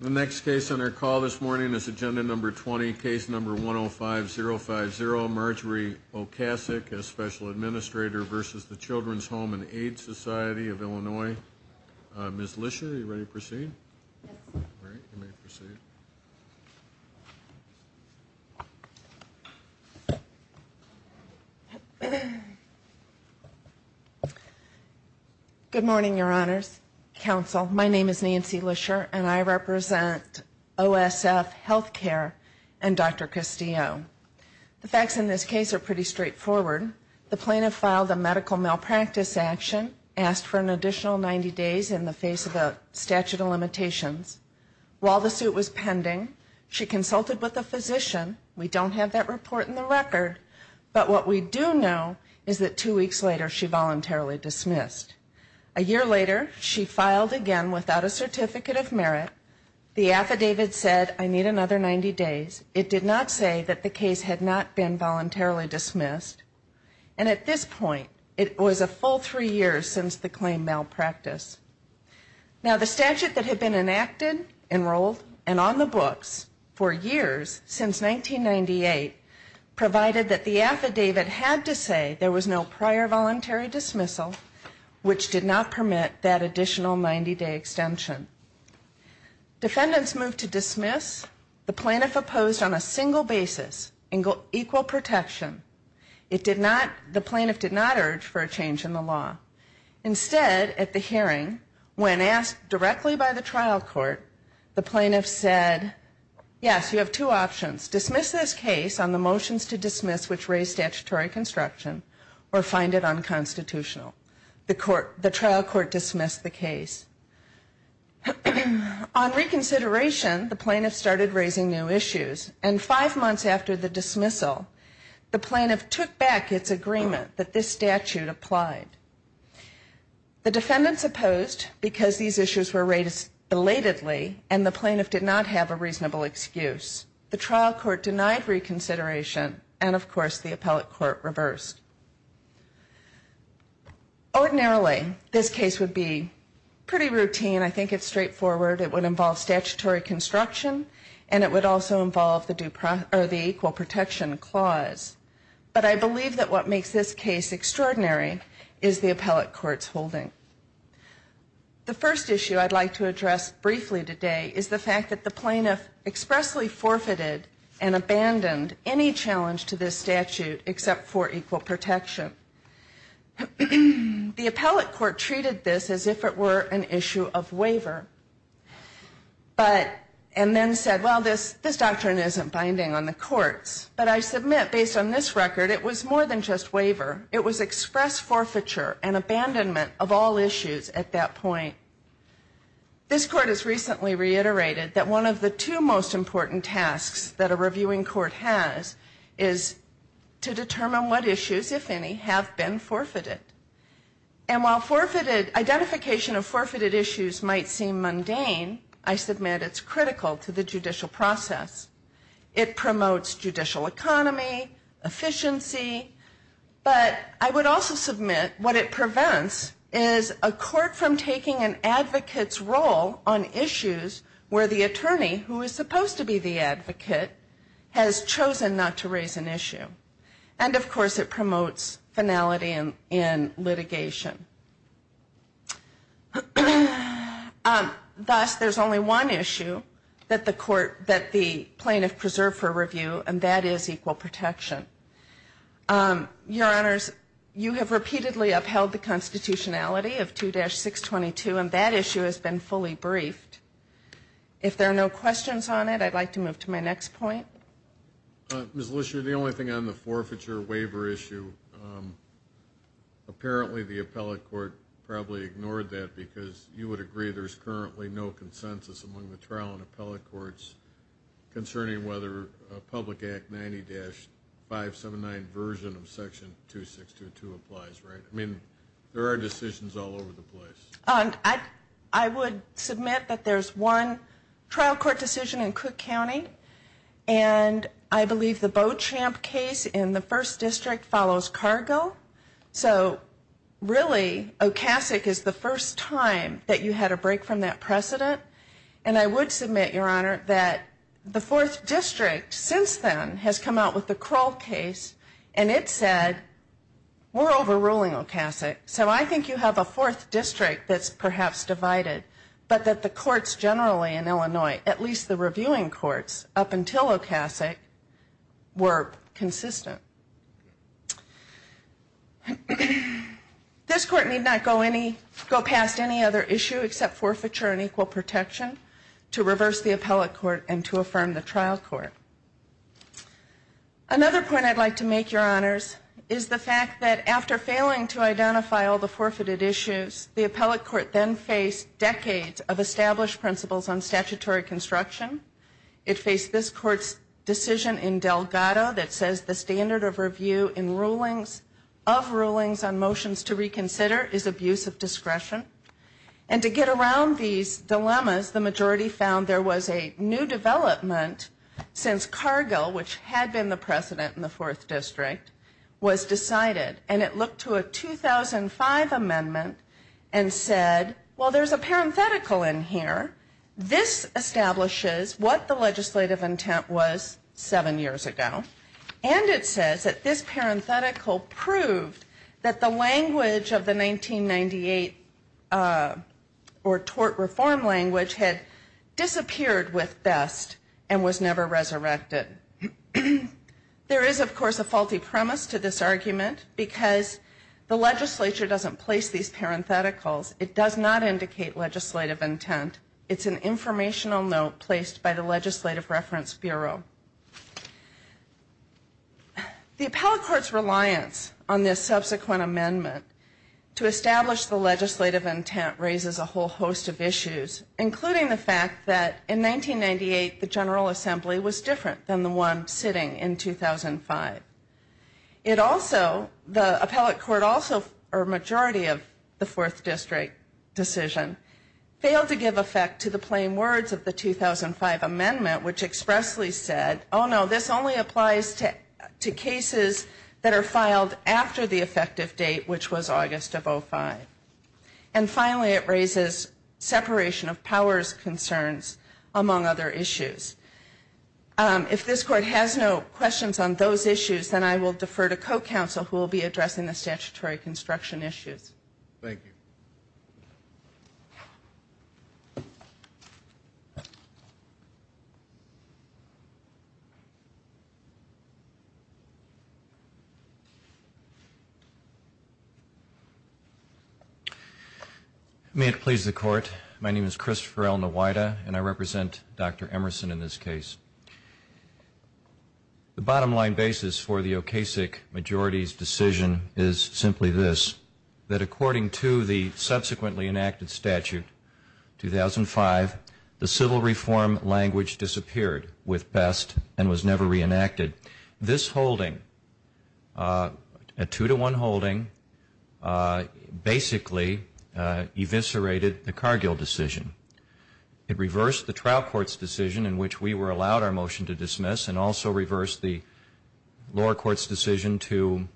The next case on our call this morning is Agenda No. 20, Case No. 105-050, Marjorie O'Casek as Special Administrator v. Children's Home and Aid Society of Illinois. Ms. Lischer, are you ready to proceed? Yes. All right, you may proceed. Good morning, Your Honors, Counsel. My name is Nancy Lischer, and I represent OSF Healthcare and Dr. Castillo. The facts in this case are pretty straightforward. The plaintiff filed a medical malpractice action, asked for an additional 90 days in the face of a statute of limitations. While the suit was pending, she consulted with a physician. We don't have that report in the record. But what we do know is that two weeks later, she voluntarily dismissed. A year later, she filed again without a certificate of merit. The affidavit said, I need another 90 days. It did not say that the case had not been voluntarily dismissed. And at this point, it was a full three years since the claimed malpractice. Now, the statute that had been enacted, enrolled, and on the books for years, since 1998, provided that the affidavit had to say there was no prior voluntary dismissal, which did not permit that additional 90-day extension. Defendants moved to dismiss. The plaintiff opposed on a single basis, equal protection. It did not, the plaintiff did not urge for a change in the law. Instead, at the hearing, when asked directly by the trial court, the plaintiff said, yes, you have two options. Dismiss this case on the motions to dismiss which raise statutory construction or find it unconstitutional. The trial court dismissed the case. On reconsideration, the plaintiff started raising new issues. And five months after the dismissal, the plaintiff took back its agreement that this statute applied. The defendants opposed because these issues were raised belatedly and the plaintiff did not have a reasonable excuse. The trial court denied reconsideration and, of course, the appellate court reversed. Ordinarily, this case would be pretty routine. I think it's straightforward. It would involve statutory construction and it would also involve the equal protection clause. But I believe that what makes this case extraordinary is the appellate court's holding. The first issue I'd like to address briefly today is the fact that the plaintiff expressly forfeited and abandoned any challenge to this statute except for equal protection. The appellate court treated this as if it were an issue of waiver, and then said, well, this doctrine isn't binding on the courts. But I submit, based on this record, it was more than just waiver. It was express forfeiture and abandonment of all issues at that point. This court has recently reiterated that one of the two most important tasks that a reviewing court has is to determine what issues, if any, have been forfeited. And while identification of forfeited issues might seem mundane, I submit it's critical to the judicial process. It promotes judicial economy, efficiency. But I would also submit what it prevents is a court from taking an advocate's role on issues where the attorney, who is supposed to be the advocate, has chosen not to raise an issue. And, of course, it promotes finality in litigation. Thus, there's only one issue that the plaintiff preserved for review, and that is equal protection. Your Honors, you have repeatedly upheld the constitutionality of 2-622, and that issue has been fully briefed. If there are no questions on it, I'd like to move to my next point. Ms. Lisher, the only thing on the forfeiture waiver issue, apparently the appellate court probably ignored that because you would agree there's currently no consensus among the trial and appellate courts concerning whether Public Act 90-579 version of Section 2-622 applies, right? I mean, there are decisions all over the place. I would submit that there's one trial court decision in Cook County, and I believe the Beauchamp case in the 1st District follows Cargo. So, really, Ocasic is the first time that you had a break from that precedent. And I would submit, Your Honor, that the 4th District, since then, has come out with the Kroll case, and it said, we're overruling Ocasic, so I think you have a 4th District that's perhaps divided, but that the courts generally in Illinois, at least the reviewing courts, up until Ocasic, were consistent. This Court need not go past any other issue except forfeiture and equal protection to reverse the appellate court and to affirm the trial court. Another point I'd like to make, Your Honors, is the fact that after failing to identify all the forfeited issues, the appellate court then faced decades of established principles on statutory construction. It faced this Court's decision in Delgado that says the standard of review of rulings on motions to reconsider is abuse of discretion. And to get around these dilemmas, the majority found there was a new development since Cargill, which had been the precedent in the 4th District, was decided. And it looked to a 2005 amendment and said, well, there's a parenthetical in here. This establishes what the legislative intent was seven years ago. And it says that this parenthetical proved that the language of the 1998 or tort reform language had disappeared with best and was never resurrected. There is, of course, a faulty premise to this argument because the legislature doesn't place these parentheticals. It does not indicate legislative intent. It's an informational note placed by the Legislative Reference Bureau. The appellate court's reliance on this subsequent amendment to establish the legislative intent raises a whole host of issues, including the fact that in 1998 the General Assembly was different than the one sitting in 2005. It also, the appellate court also, or a majority of the 4th District decision, failed to give effect to the plain words of the 2005 amendment, which expressly said, oh, no, this only applies to cases that are filed after the effective date, which was August of 2005. And finally, it raises separation of powers concerns, among other issues. If this Court has no questions on those issues, then I will defer to Co-Counsel, who will be addressing the statutory construction issues. Thank you. May it please the Court. My name is Christopher L. Nowida, and I represent Dr. Emerson in this case. The bottom line basis for the Okasik majority's decision is simply this, that according to the subsequently enacted statute, 2005, the civil reform language disappeared with Best and was never reenacted. This holding, a two-to-one holding, basically eviscerated the Cargill decision. It reversed the trial court's decision in which we were allowed our motion to dismiss and also reversed the lower court's decision to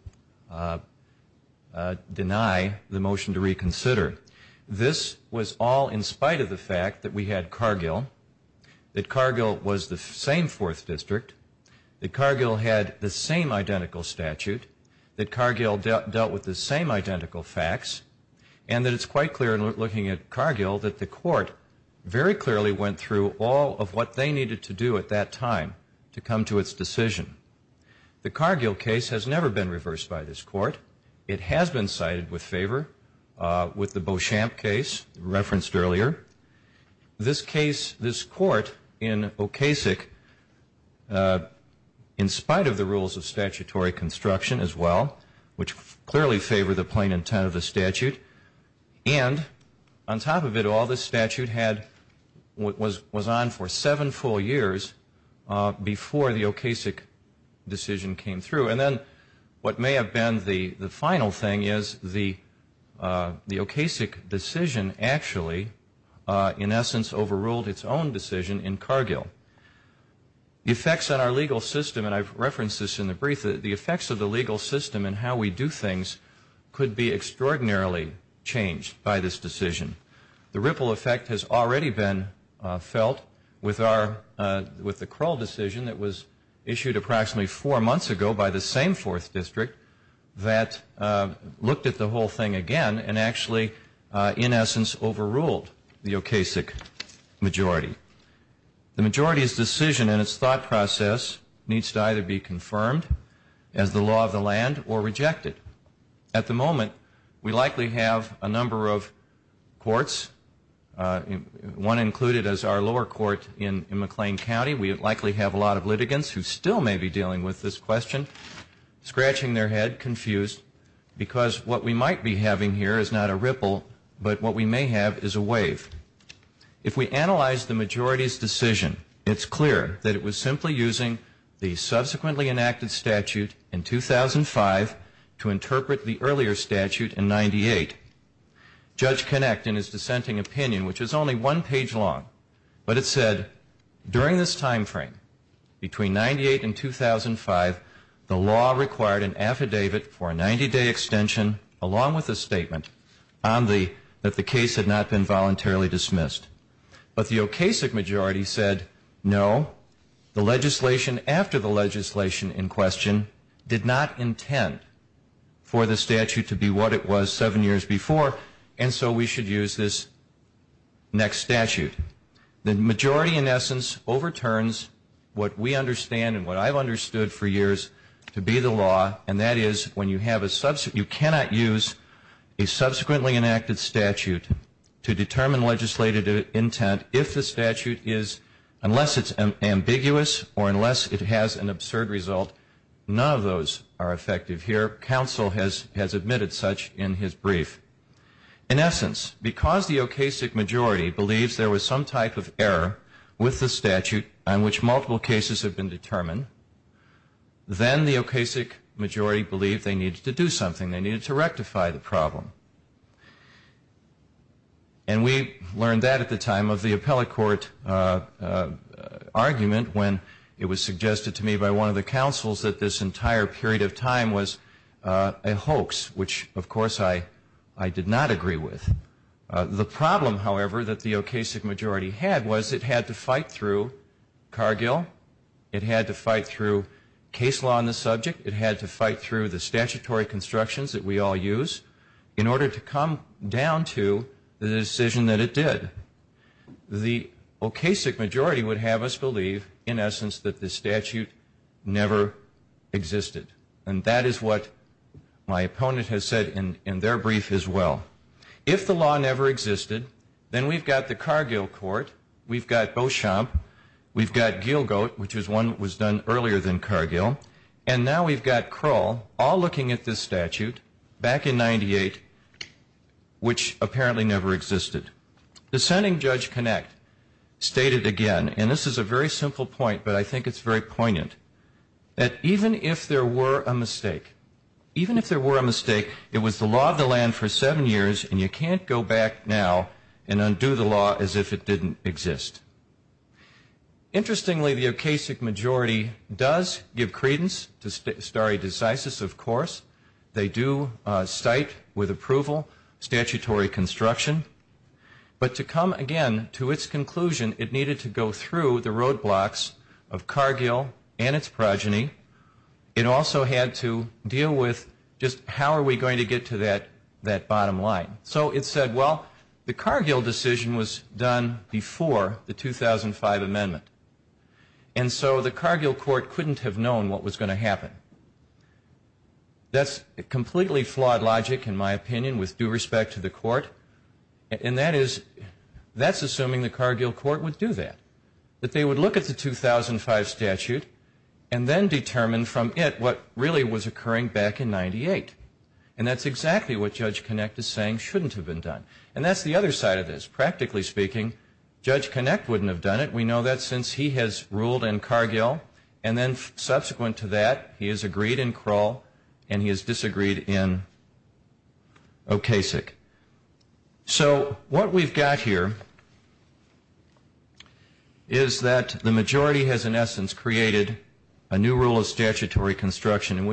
deny the motion to reconsider. This was all in spite of the fact that we had Cargill, that Cargill was the same fourth district, that Cargill had the same identical statute, that Cargill dealt with the same identical facts, and that it's quite clear in looking at Cargill that the Court very clearly went through all of what they needed to do at that time to come to its decision. The Cargill case has never been reversed by this Court. It has been cited with favor with the Beauchamp case referenced earlier. This case, this Court in Okasik, in spite of the rules of statutory construction as well, which clearly favor the plain intent of the statute, and on top of it all, this statute was on for seven full years before the Okasik decision came through. And then what may have been the final thing is the Okasik decision actually, in essence, overruled its own decision in Cargill. The effects on our legal system, and I've referenced this in the brief, the effects of the legal system and how we do things could be extraordinarily changed by this decision. The ripple effect has already been felt with our, with the Krull decision that was issued approximately four months ago by this Court. And it was this same fourth district that looked at the whole thing again and actually, in essence, overruled the Okasik majority. The majority's decision and its thought process needs to either be confirmed as the law of the land or rejected. At the moment, we likely have a number of courts, one included as our lower court in McLean County. We likely have a lot of litigants who still may be dealing with this question, scratching their head, confused, because what we might be having here is not a ripple, but what we may have is a wave. If we analyze the majority's decision, it's clear that it was simply using the subsequently enacted statute in 2005 to interpret the earlier statute in 98. Judge Kinect, in his dissenting opinion, which is only one page long, but it said, during this time frame, between 98 and 2005, the law required an affidavit for a 90-day extension, along with a statement on the, that the case had not been voluntarily dismissed. But the Okasik majority said, no, the legislation after the legislation in question did not intend for the statute to be what it was seven years prior. And so we should use this next statute. The majority, in essence, overturns what we understand and what I've understood for years to be the law, and that is when you have a, you cannot use a subsequently enacted statute to determine legislative intent if the statute is, unless it's ambiguous or unless it has an absurd result, none of those are effective here. Counsel has admitted such in his brief. In essence, because the Okasik majority believes there was some type of error with the statute on which multiple cases have been determined, then the Okasik majority believed they needed to do something, they needed to rectify the problem. And we learned that at the time of the appellate court argument when it was suggested to me by one of the counsels that this entire period of time was a hoax, which, of course, I did not agree with. The problem, however, that the Okasik majority had was it had to fight through Cargill, it had to fight through case law on the subject, it had to fight through the statutory constructions that we all use in order to come down to the decision that it did. The Okasik majority would have us believe, in essence, that the statute never existed. And that is what my opponent has said in their brief as well. If the law never existed, then we've got the Cargill court, we've got Beauchamp, we've got Gielgud, which is one that was done earlier than Cargill, and now we've got Kroll all looking at this statute back in 98, which apparently never existed. Dissenting Judge Connacht stated again, and this is a very simple point, but I think it's very poignant, that even if there were a mistake, even if there were a mistake, it was the law of the land for seven years, and you can't go back now and undo the law as if it didn't exist. Interestingly, the Okasik majority does give credence to stare decisis, of course. They do cite with approval statutory construction. But to come again to its conclusion, it needed to go through the roadblocks of Cargill and its progeny. It also had to deal with just how are we going to get to that bottom line. So it said, well, the Cargill decision was done before the 2005 amendment. And so the Cargill court couldn't have known what was going to happen. That's completely flawed logic, in my opinion, with due respect to the court. And that is, that's assuming the Cargill court would do that, that they would look at the 2005 statute and then determine from it what really was occurring back in 98. And that's exactly what Judge Connacht is saying shouldn't have been done. And that's the other side of this. Practically speaking, Judge Connacht wouldn't have done it. We know that since he has ruled in Cargill. And then subsequent to that, he has agreed in Kroll and he has disagreed in Okasik. So what we've got here is that the majority has in essence created a new rule of statutory construction and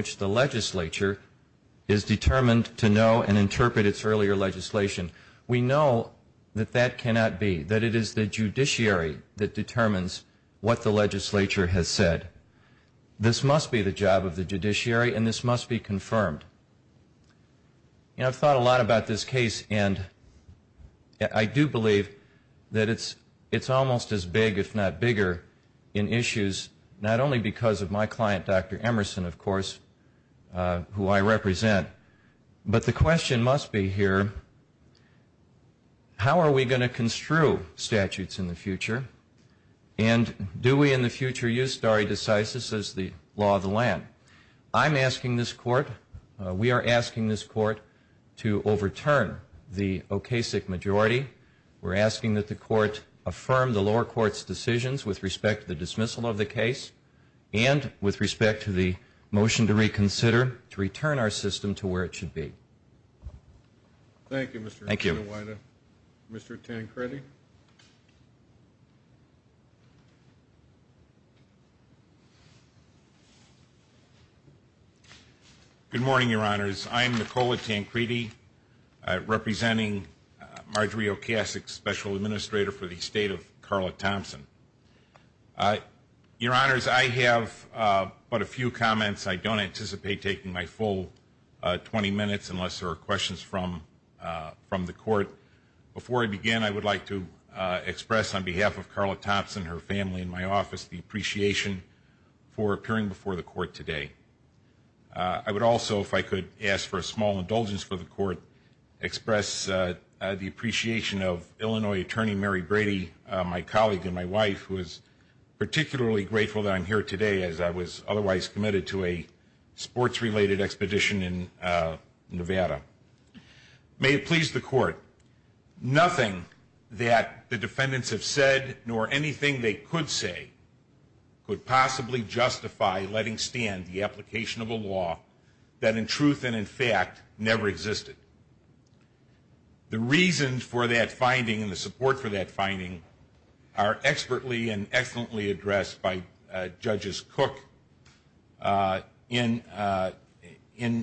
we know that that cannot be, that it is the judiciary that determines what the legislature has said. This must be the job of the judiciary and this must be confirmed. I've thought a lot about this case and I do believe that it's almost as big, if not bigger, in issues, not only because of my client, Dr. Emerson, of course, who I represent, but the question must be here, how are we going to construe statutes in the future? And do we in the future use stare decisis as the law of the land? I'm asking this court, we are asking this court to overturn the Okasik majority. We're asking that the court affirm the lower court's decisions with respect to the dismissal of the case and with respect to the motion to reconsider, to return our system to where it should be. Thank you, Mr. Tancredi. Good morning, your honors. I'm Nicola Tancredi, representing Marjorie Okasik, Special Administrator for the State of Carla Thompson. Your honors, I have but a few comments. I don't anticipate taking my full 20 minutes unless there are questions from the court. Before I begin, I would like to express on behalf of Carla Thompson, her family and my office, the appreciation for appearing before the court today. I would also, if I could ask for a small indulgence for the court, express the appreciation of Illinois Attorney Mary Brady, my colleague and my wife, who is particularly grateful that I'm here today as I was otherwise committed to a sports-related expedition in Nevada. May it please the court, nothing that the defendants have said, nor anything they could say, could possibly justify letting stand the application of a law that in truth and in fact never existed. The reasons for that finding and the support for that finding are expertly and excellently addressed by Judge Cook in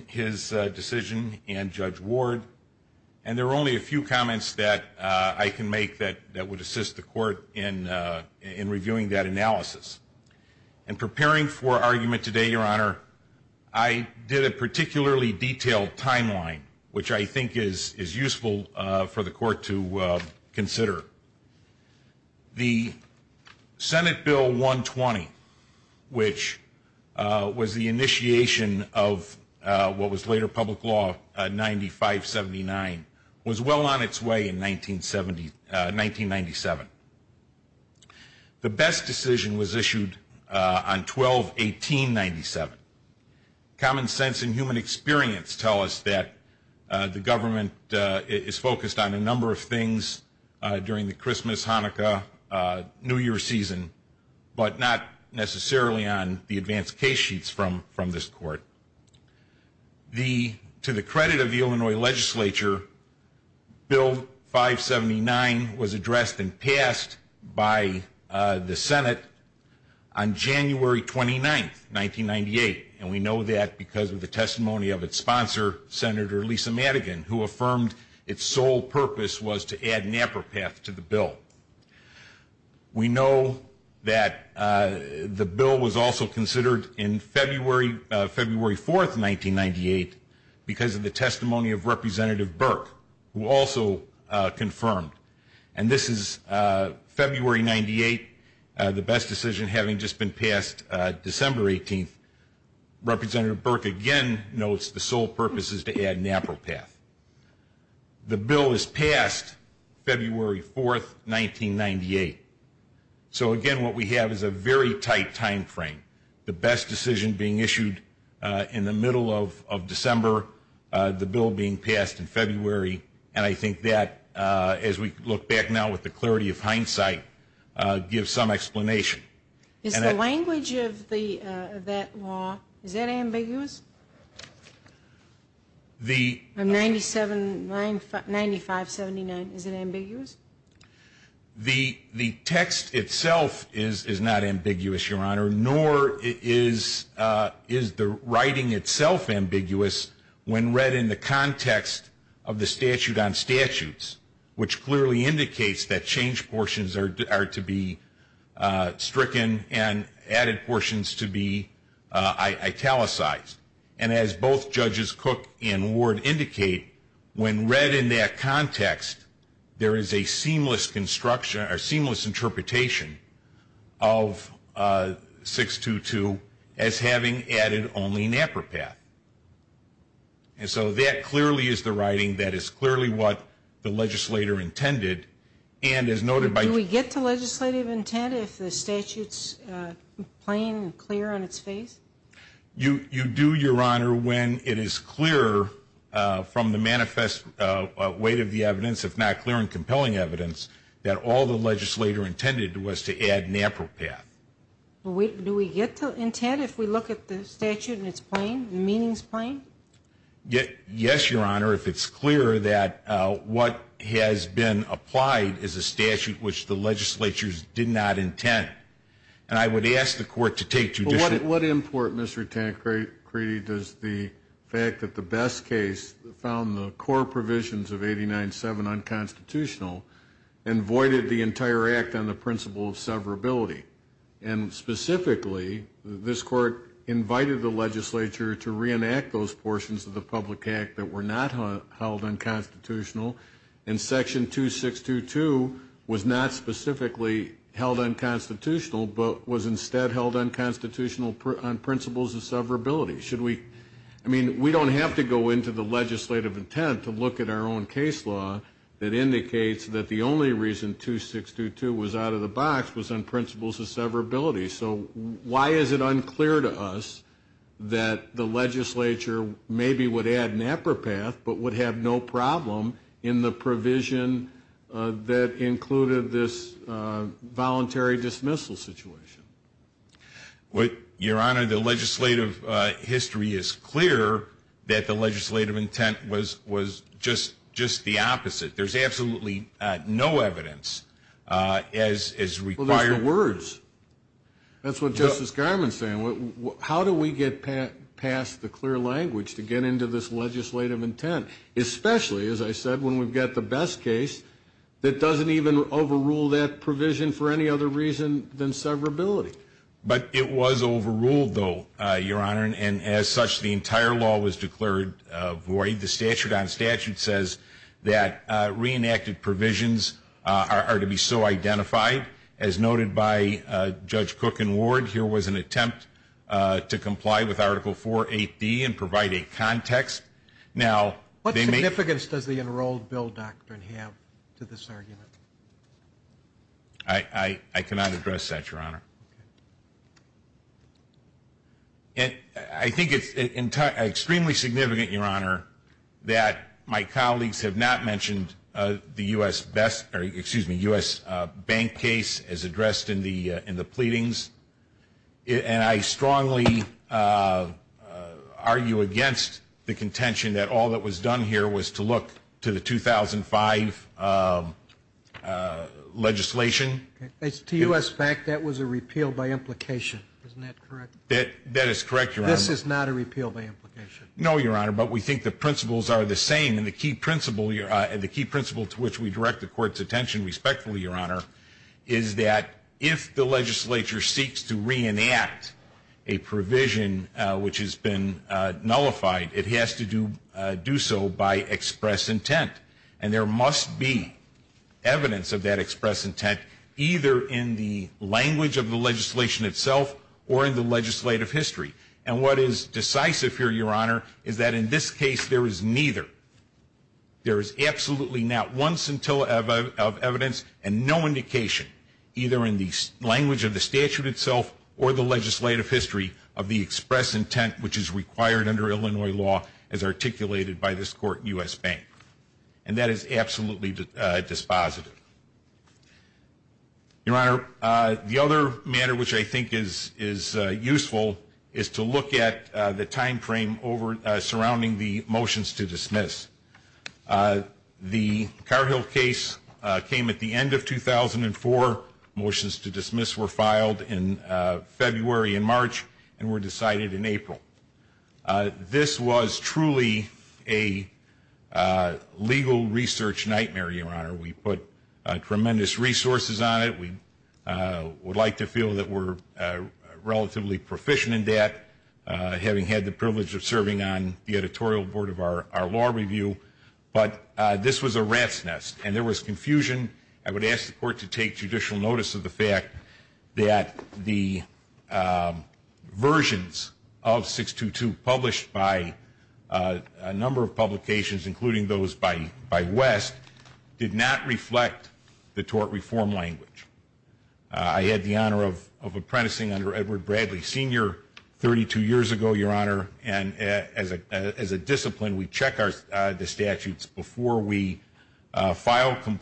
his decision and Judge Ward, and there are only a few comments that I can make that would assist the court in reviewing that analysis. In preparing for argument today, your honor, I did a particularly detailed timeline, which I think is useful for the court to consider. The Senate Bill 120, which was the initiation of what was later public law, 95-79, was well on its way in 1997. The best decision was issued on 12-18-97. Common sense and human experience tell us that the government is focused on a number of things during the Christmas, Hanukkah, New Year season, but not necessarily on the advanced case sheets from this court. To the credit of the Illinois legislature, Bill 579 was addressed and passed by the Senate on January 29, 1998, and we know that because of the testimony of its sponsor, Senator Lisa Madigan, who affirmed its sole purpose was to add NAPPERPATH to the bill. We know that the bill was also considered in February 4, 1998, because of the testimony of Representative Burke, who also confirmed, and this is February 98, the best decision having just been passed December 18. Representative Burke again notes the sole purpose is to add NAPPERPATH. The bill is passed February 4, 1998. So again, what we have is a very tight timeframe. The best decision being issued in the middle of December, the bill being passed in February, and I think that, as we look back now with the clarity of hindsight, gives some explanation. Is the language of that law, is that ambiguous? 9579, is it ambiguous? The text itself is not ambiguous, Your Honor, nor is the writing itself ambiguous when read in the context of the statute on statutes, which clearly indicates that change portions are to be italicized. And as both Judges Cook and Ward indicate, when read in that context, there is a seamless construction or seamless interpretation of 622 as having added only NAPPERPATH. And so that clearly is the writing that is clearly what the legislator intended, and as noted by... You do, Your Honor, when it is clear from the manifest weight of the evidence, if not clear and compelling evidence, that all the legislator intended was to add NAPPERPATH. Do we get to intent if we look at the statute in its plain, meanings plain? Yes, Your Honor, if it's clear that what has been applied is a statute which the legislatures did not intend, and I would ask the court to take... What import, Mr. Tancredi, does the fact that the best case found the core provisions of 89-7 unconstitutional and voided the entire act on the principle of severability? And specifically, this court invited the legislature to reenact those portions of the public act that were not held unconstitutional, and section 2622 was not specifically held unconstitutional, but was instead held unconstitutional on principles of severability. Should we... I mean, we don't have to go into the legislative intent to look at our own case law that indicates that the only reason 2622 was out of the box was on principles of severability. So why is it unclear to us that the legislature maybe would add NAPPERPATH, but would have no problem in the provision that included this voluntary dismissal situation? Your Honor, the legislative history is clear that the legislative intent was just the opposite. There's absolutely no evidence as required. Well, there's the words. That's what Justice Garmon's saying. How do we get past the clear language to get into this legislative intent, especially, as I said, when we've got the best case that doesn't even overrule that provision for any other reason than severability? But it was overruled, though, Your Honor, and as such, the entire law was declared void. The statute on statute says that reenacted provisions are to be so identified. As noted by Judge Cook and Ward, here was an attempt to comply with Article 480 and provide a context. Now... What significance does the enrolled bill doctrine have to this argument? I cannot address that, Your Honor. I think it's extremely significant, Your Honor, that my colleagues have not mentioned the U.S. Bank case as addressed in the pleadings. And I strongly argue against the contention that all that was done here was to look to the 2005 legislation. To U.S. Bank, that was a repeal by implication. Isn't that correct? That is correct, Your Honor. This is not a repeal by implication. No, Your Honor, but we think the principles are the same, and the key principle to which we direct the Court's attention respectfully, Your Honor, is that if the legislature seeks to reenact a provision which has been expressed, there must be evidence of that express intent, either in the language of the legislation itself or in the legislative history. And what is decisive here, Your Honor, is that in this case there is neither. There is absolutely not once until of evidence and no indication, either in the language of the statute itself or the legislative history, of the express intent which is intended to be disposed of. Your Honor, the other matter which I think is useful is to look at the time frame surrounding the motions to dismiss. The Carhill case came at the end of 2004. Motions to dismiss were filed in February and March and were decided in April. This was truly a legal research nightmare, Your Honor. We put tremendous resources on it. We would like to feel that we're relatively proficient in that, having had the privilege of serving on the editorial board of our law review. But this was a rat's nest, and there was confusion. I would ask the Court to take judicial notice of the fact that the versions of 622 published by a number of publications, including those by West, did not reflect the tort reform language. I had the honor of apprenticing under Edward Bradley Sr. 32 years ago, Your Honor, and as a discipline we check the statutes before we submit them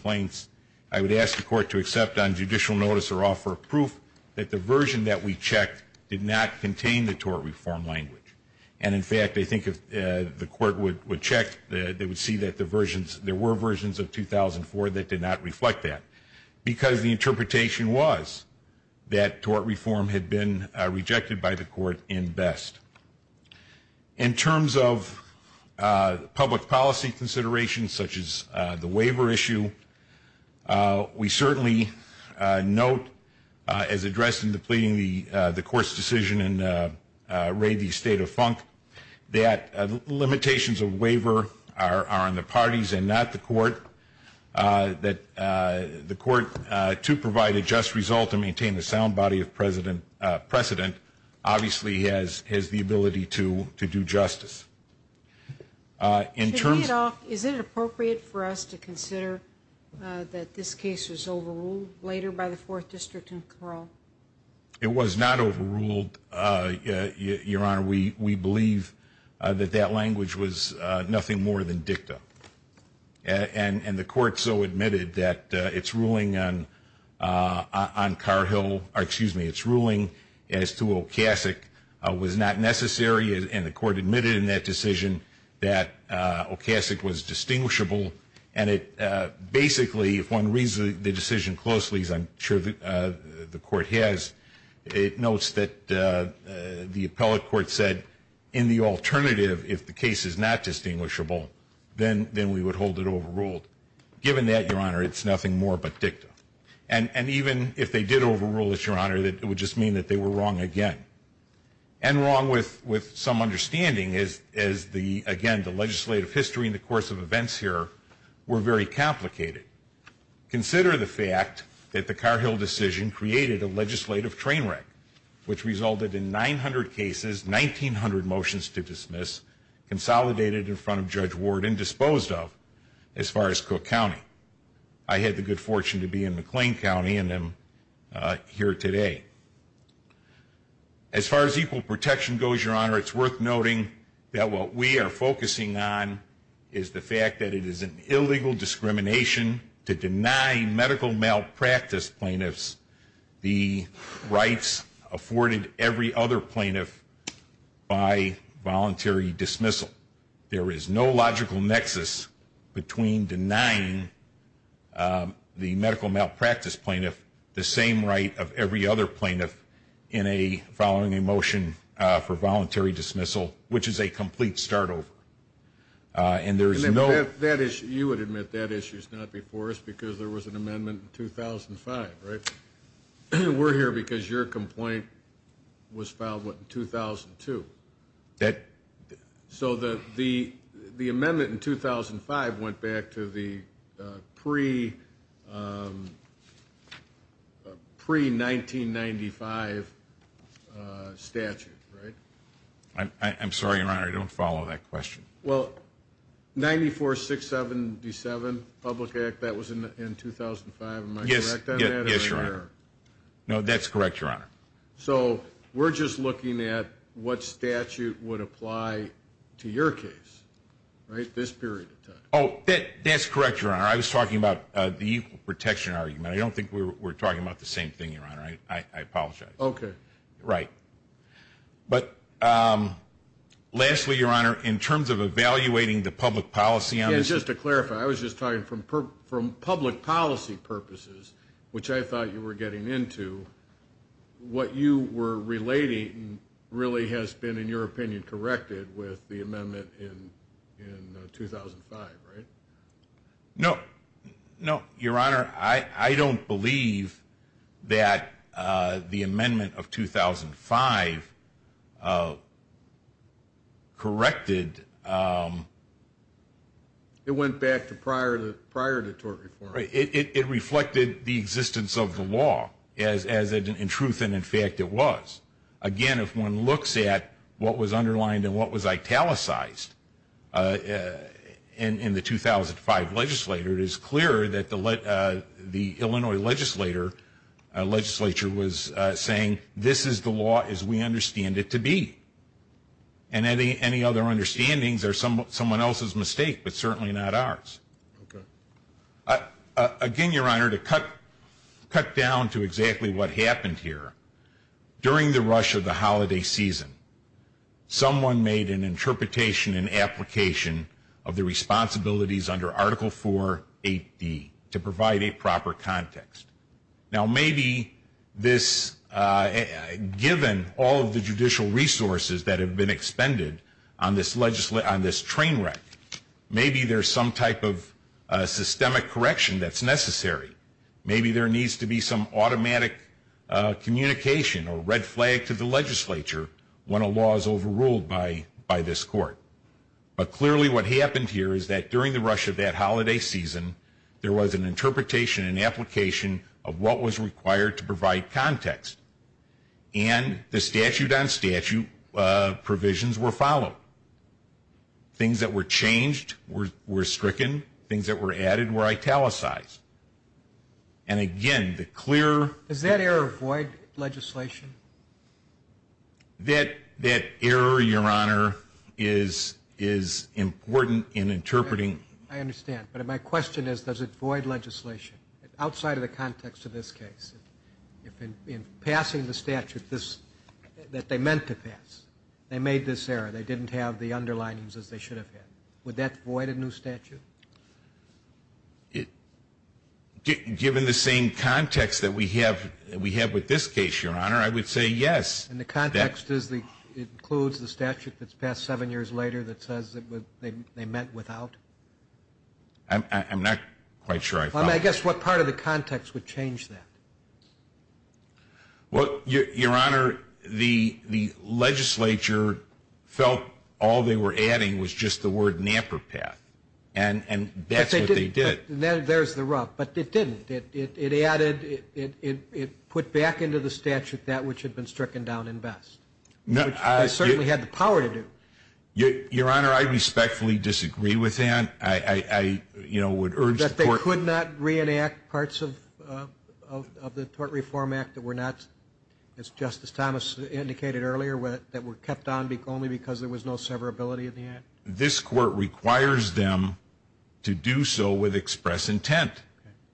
for proof that the version that we checked did not contain the tort reform language. And in fact, I think if the Court would check, they would see that there were versions of 2004 that did not reflect that, because the interpretation was that tort reform had been rejected by the Court in Best. In terms of public policy considerations, such as the waiver issue, we certainly note, as addressed in the pleading of the Court's decision in Ray v. State of Funk, that limitations of waiver are on the parties and not the Court. The Court, to provide a just result and maintain a sound body of precedent, obviously has the ability to do justice. Is it appropriate for us to consider that this case was overruled later by the 4th District in Carroll? It was not overruled, Your Honor. We believe that that language was nothing more than dicta. And the Court so admitted that its ruling on Car-Hill, or excuse me, its ruling as to Okasik was not necessary, and the Court admitted in that decision that Okasik was distinguishable. And it basically, if one reads the decision closely, as I'm sure the Court has, it notes that the appellate court said, in the alternative, if the case is not distinguishable, then we would hold it overruled. Given that, Your Honor, it's And wrong with some understanding, as the, again, the legislative history in the course of events here were very complicated. Consider the fact that the Car-Hill decision created a legislative train wreck, which resulted in 900 cases, 1,900 motions to dismiss, consolidated in front of Judge Ward, and disposed of as far as Cook County. I had the good fortune to be in As far as equal protection goes, Your Honor, it's worth noting that what we are focusing on is the fact that it is an illegal discrimination to deny medical malpractice plaintiffs the rights afforded every other plaintiff by voluntary dismissal. There is no logical nexus between denying the medical malpractice plaintiff the same right of every other plaintiff in a following a motion for voluntary dismissal, which is a complete start over. And there is no You would admit that issue is not before us because there was an amendment in 2005, right? We're here because your complaint was filed, what, in 2002. pre-1995 statute, right? I'm sorry, Your Honor, I don't follow that question. Well, 94-677 Public Act, that was in 2005. Am I correct on that? Yes, Your Honor. No, that's correct, Your Honor. So we're just looking at what statute would apply to your case, right, this period of time. Oh, that's correct, Your Honor. I was talking about the equal protection argument. I don't think we're talking about the same thing, Your Honor. I apologize. Okay. Right. But lastly, Your Honor, in terms of evaluating the public policy on this issue. Again, just to clarify, I was just talking from public policy purposes, which I thought you were getting into, what you were relating really has been, in your opinion, corrected with the amendment in 2005, right? No. No, Your Honor, I don't believe that the amendment of 2005 corrected. It went back to prior to 2005. I don't believe that the amendment of 2005 corrected. It went back to prior to 2005. I don't believe that the amendment of 2005 corrected. It went back to prior to 2005. Again, if one looks at what was underlined and what was italicized in the 2005 legislature, it is clear that the Illinois legislature was saying, this is the law as we understand it to be. And any other understandings are someone else's mistake, but certainly not ours. Again, Your Honor, to cut down to exactly what happened here, during the rush of the holiday season, someone made an interpretation and application of the responsibilities under Article 4 8D to provide a proper context. Now maybe this, given all of the judicial resources that have been expended on this train wreck, maybe there's some type of systemic correction that's necessary. Maybe there needs to be some automatic communication or red flag to the legislature when a law is overruled by this court. But clearly what happened here is that during the rush of that holiday season, there was an interpretation and application of what was required to provide context. And the statute on statute provisions were followed. Things that were changed were stricken. Things that were added were italicized. And again, the clear... Does that error void legislation? That error, Your Honor, is important in interpreting... I understand. But my question is, does it void legislation? Outside of the context of this case. In passing the statute that they meant to pass, they made this error. They didn't have the underlinings as they should have had. Would that void a new statute? Given the same context that we have with this case, Your Honor, I would say yes. And the context includes the statute that's passed seven years later that says they meant without? I'm not quite sure I follow. I guess what part of the context would change that? Well, Your Honor, the legislature felt all they were adding was just the word NAPPERPATH. And that's what they did. There's the rub. But it didn't. It added... It put back into the statute that which had been stricken down in best. Which they certainly had the power to do. Your Honor, I respectfully disagree with that. I would urge the court... That they could not reenact parts of the Tort Reform Act that were not, as Justice Thomas indicated earlier, that were kept on only because there was no severability in the act. This court requires them to do so with express intent.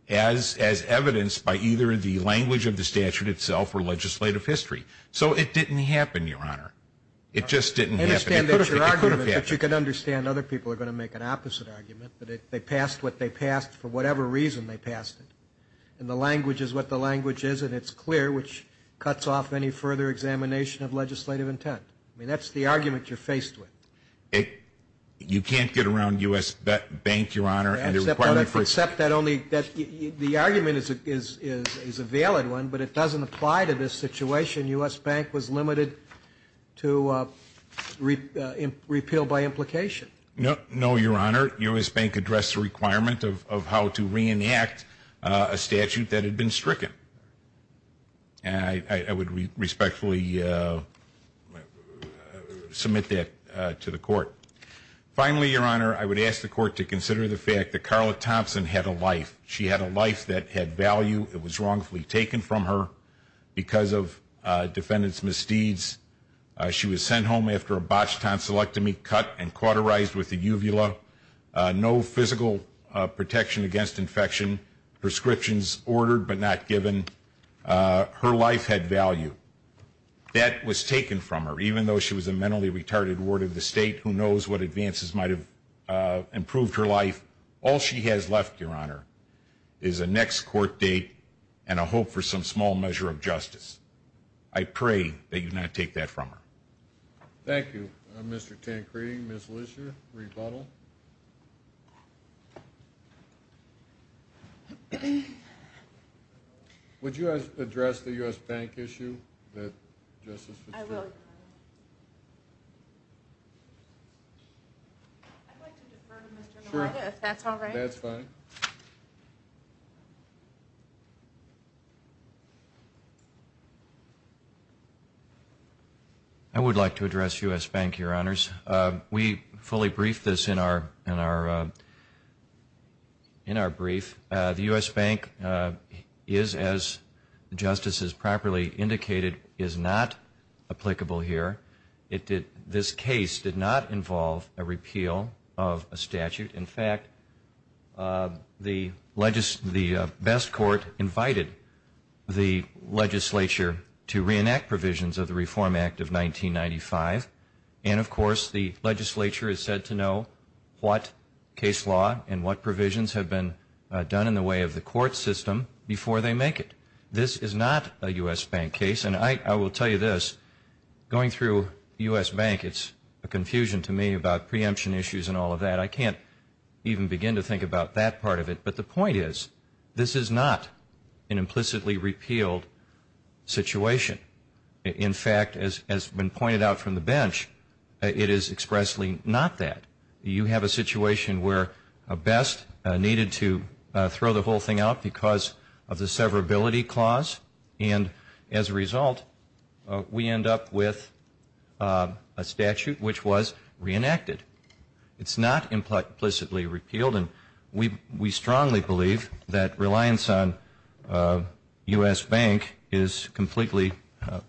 As evidenced by either the language of the statute itself or legislative history. So it didn't happen, Your Honor. It just didn't happen. I understand that's your argument, but you can understand other people are going to make an opposite argument. They passed what they passed for whatever reason they passed it. And the language is what the language is, and it's clear, which cuts off any further examination of legislative intent. I mean, that's the argument you're faced with. You can't get around U.S. Bank, Your Honor. Except that only... The argument is a valid one, but it doesn't apply to this situation. U.S. Bank was limited to repeal by implication. No, Your Honor. U.S. Bank addressed the requirement of how to reenact a statute that had been stricken. I would respectfully submit that to the court. Finally, Your Honor, I would ask the court to consider the fact that Carla Thompson had a life. She had a life that had value. It was wrongfully taken from her because of defendant's misdeeds. She was sent home after a botched tonsillectomy, cut and cauterized with a uvula. No physical protection against infection. Prescriptions ordered but not given. Her life had value. That was taken from her, even though she was a mentally retarded ward of the state who knows what advances might have improved her life. All she has left, Your Honor, is a next court date and a hope for some small measure of justice. I pray that you not take that from her. Thank you, Mr. Tancredi. Ms. Lister, rebuttal. Would you address the U.S. Bank issue? I would like to address U.S. Bank, Your Honors. We fully briefed this in our brief. The U.S. Bank is, as the Justice has properly indicated, is not applicable here. This case did not involve a repeal of a statute. In fact, the best court invited the legislature to reenact provisions of the Reform Act of 1995. And, of course, the legislature is said to know what case law and what provisions have been done in the way of the court system before they make it. This is not a U.S. Bank case. And I will tell you this, going through U.S. Bank, it's a confusion to me about preemption issues and all of that. I can't even begin to think about that part of it. But the point is, this is not an implicitly repealed situation. In fact, as has been pointed out from the bench, it is expressly not that. You have a situation where a best needed to throw the whole thing out because of the severability clause. And as a result, we end up with a statute which was reenacted. It's not implicitly repealed. And we strongly believe that reliance on U.S. Bank is completely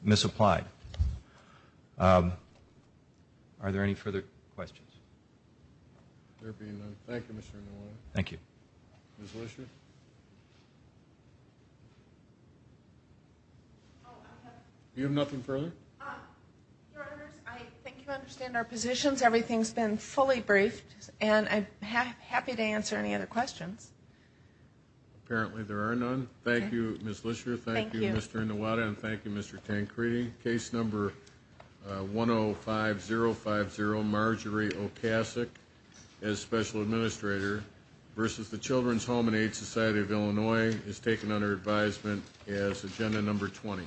misapplied. Are there any further questions? Thank you. Thank you. You have nothing further? I think you understand our positions. Everything's been fully briefed. And I'm happy to answer any other questions. Apparently there are none. Thank you, Ms. Lisher. Thank you, Mr. Inouye. And thank you, Mr. Tancredi. Case number 105050, Marjorie Okasik, as Special Administrator, versus the Children's Home and Aid Society of Illinois, is taken under advisement as agenda number 20.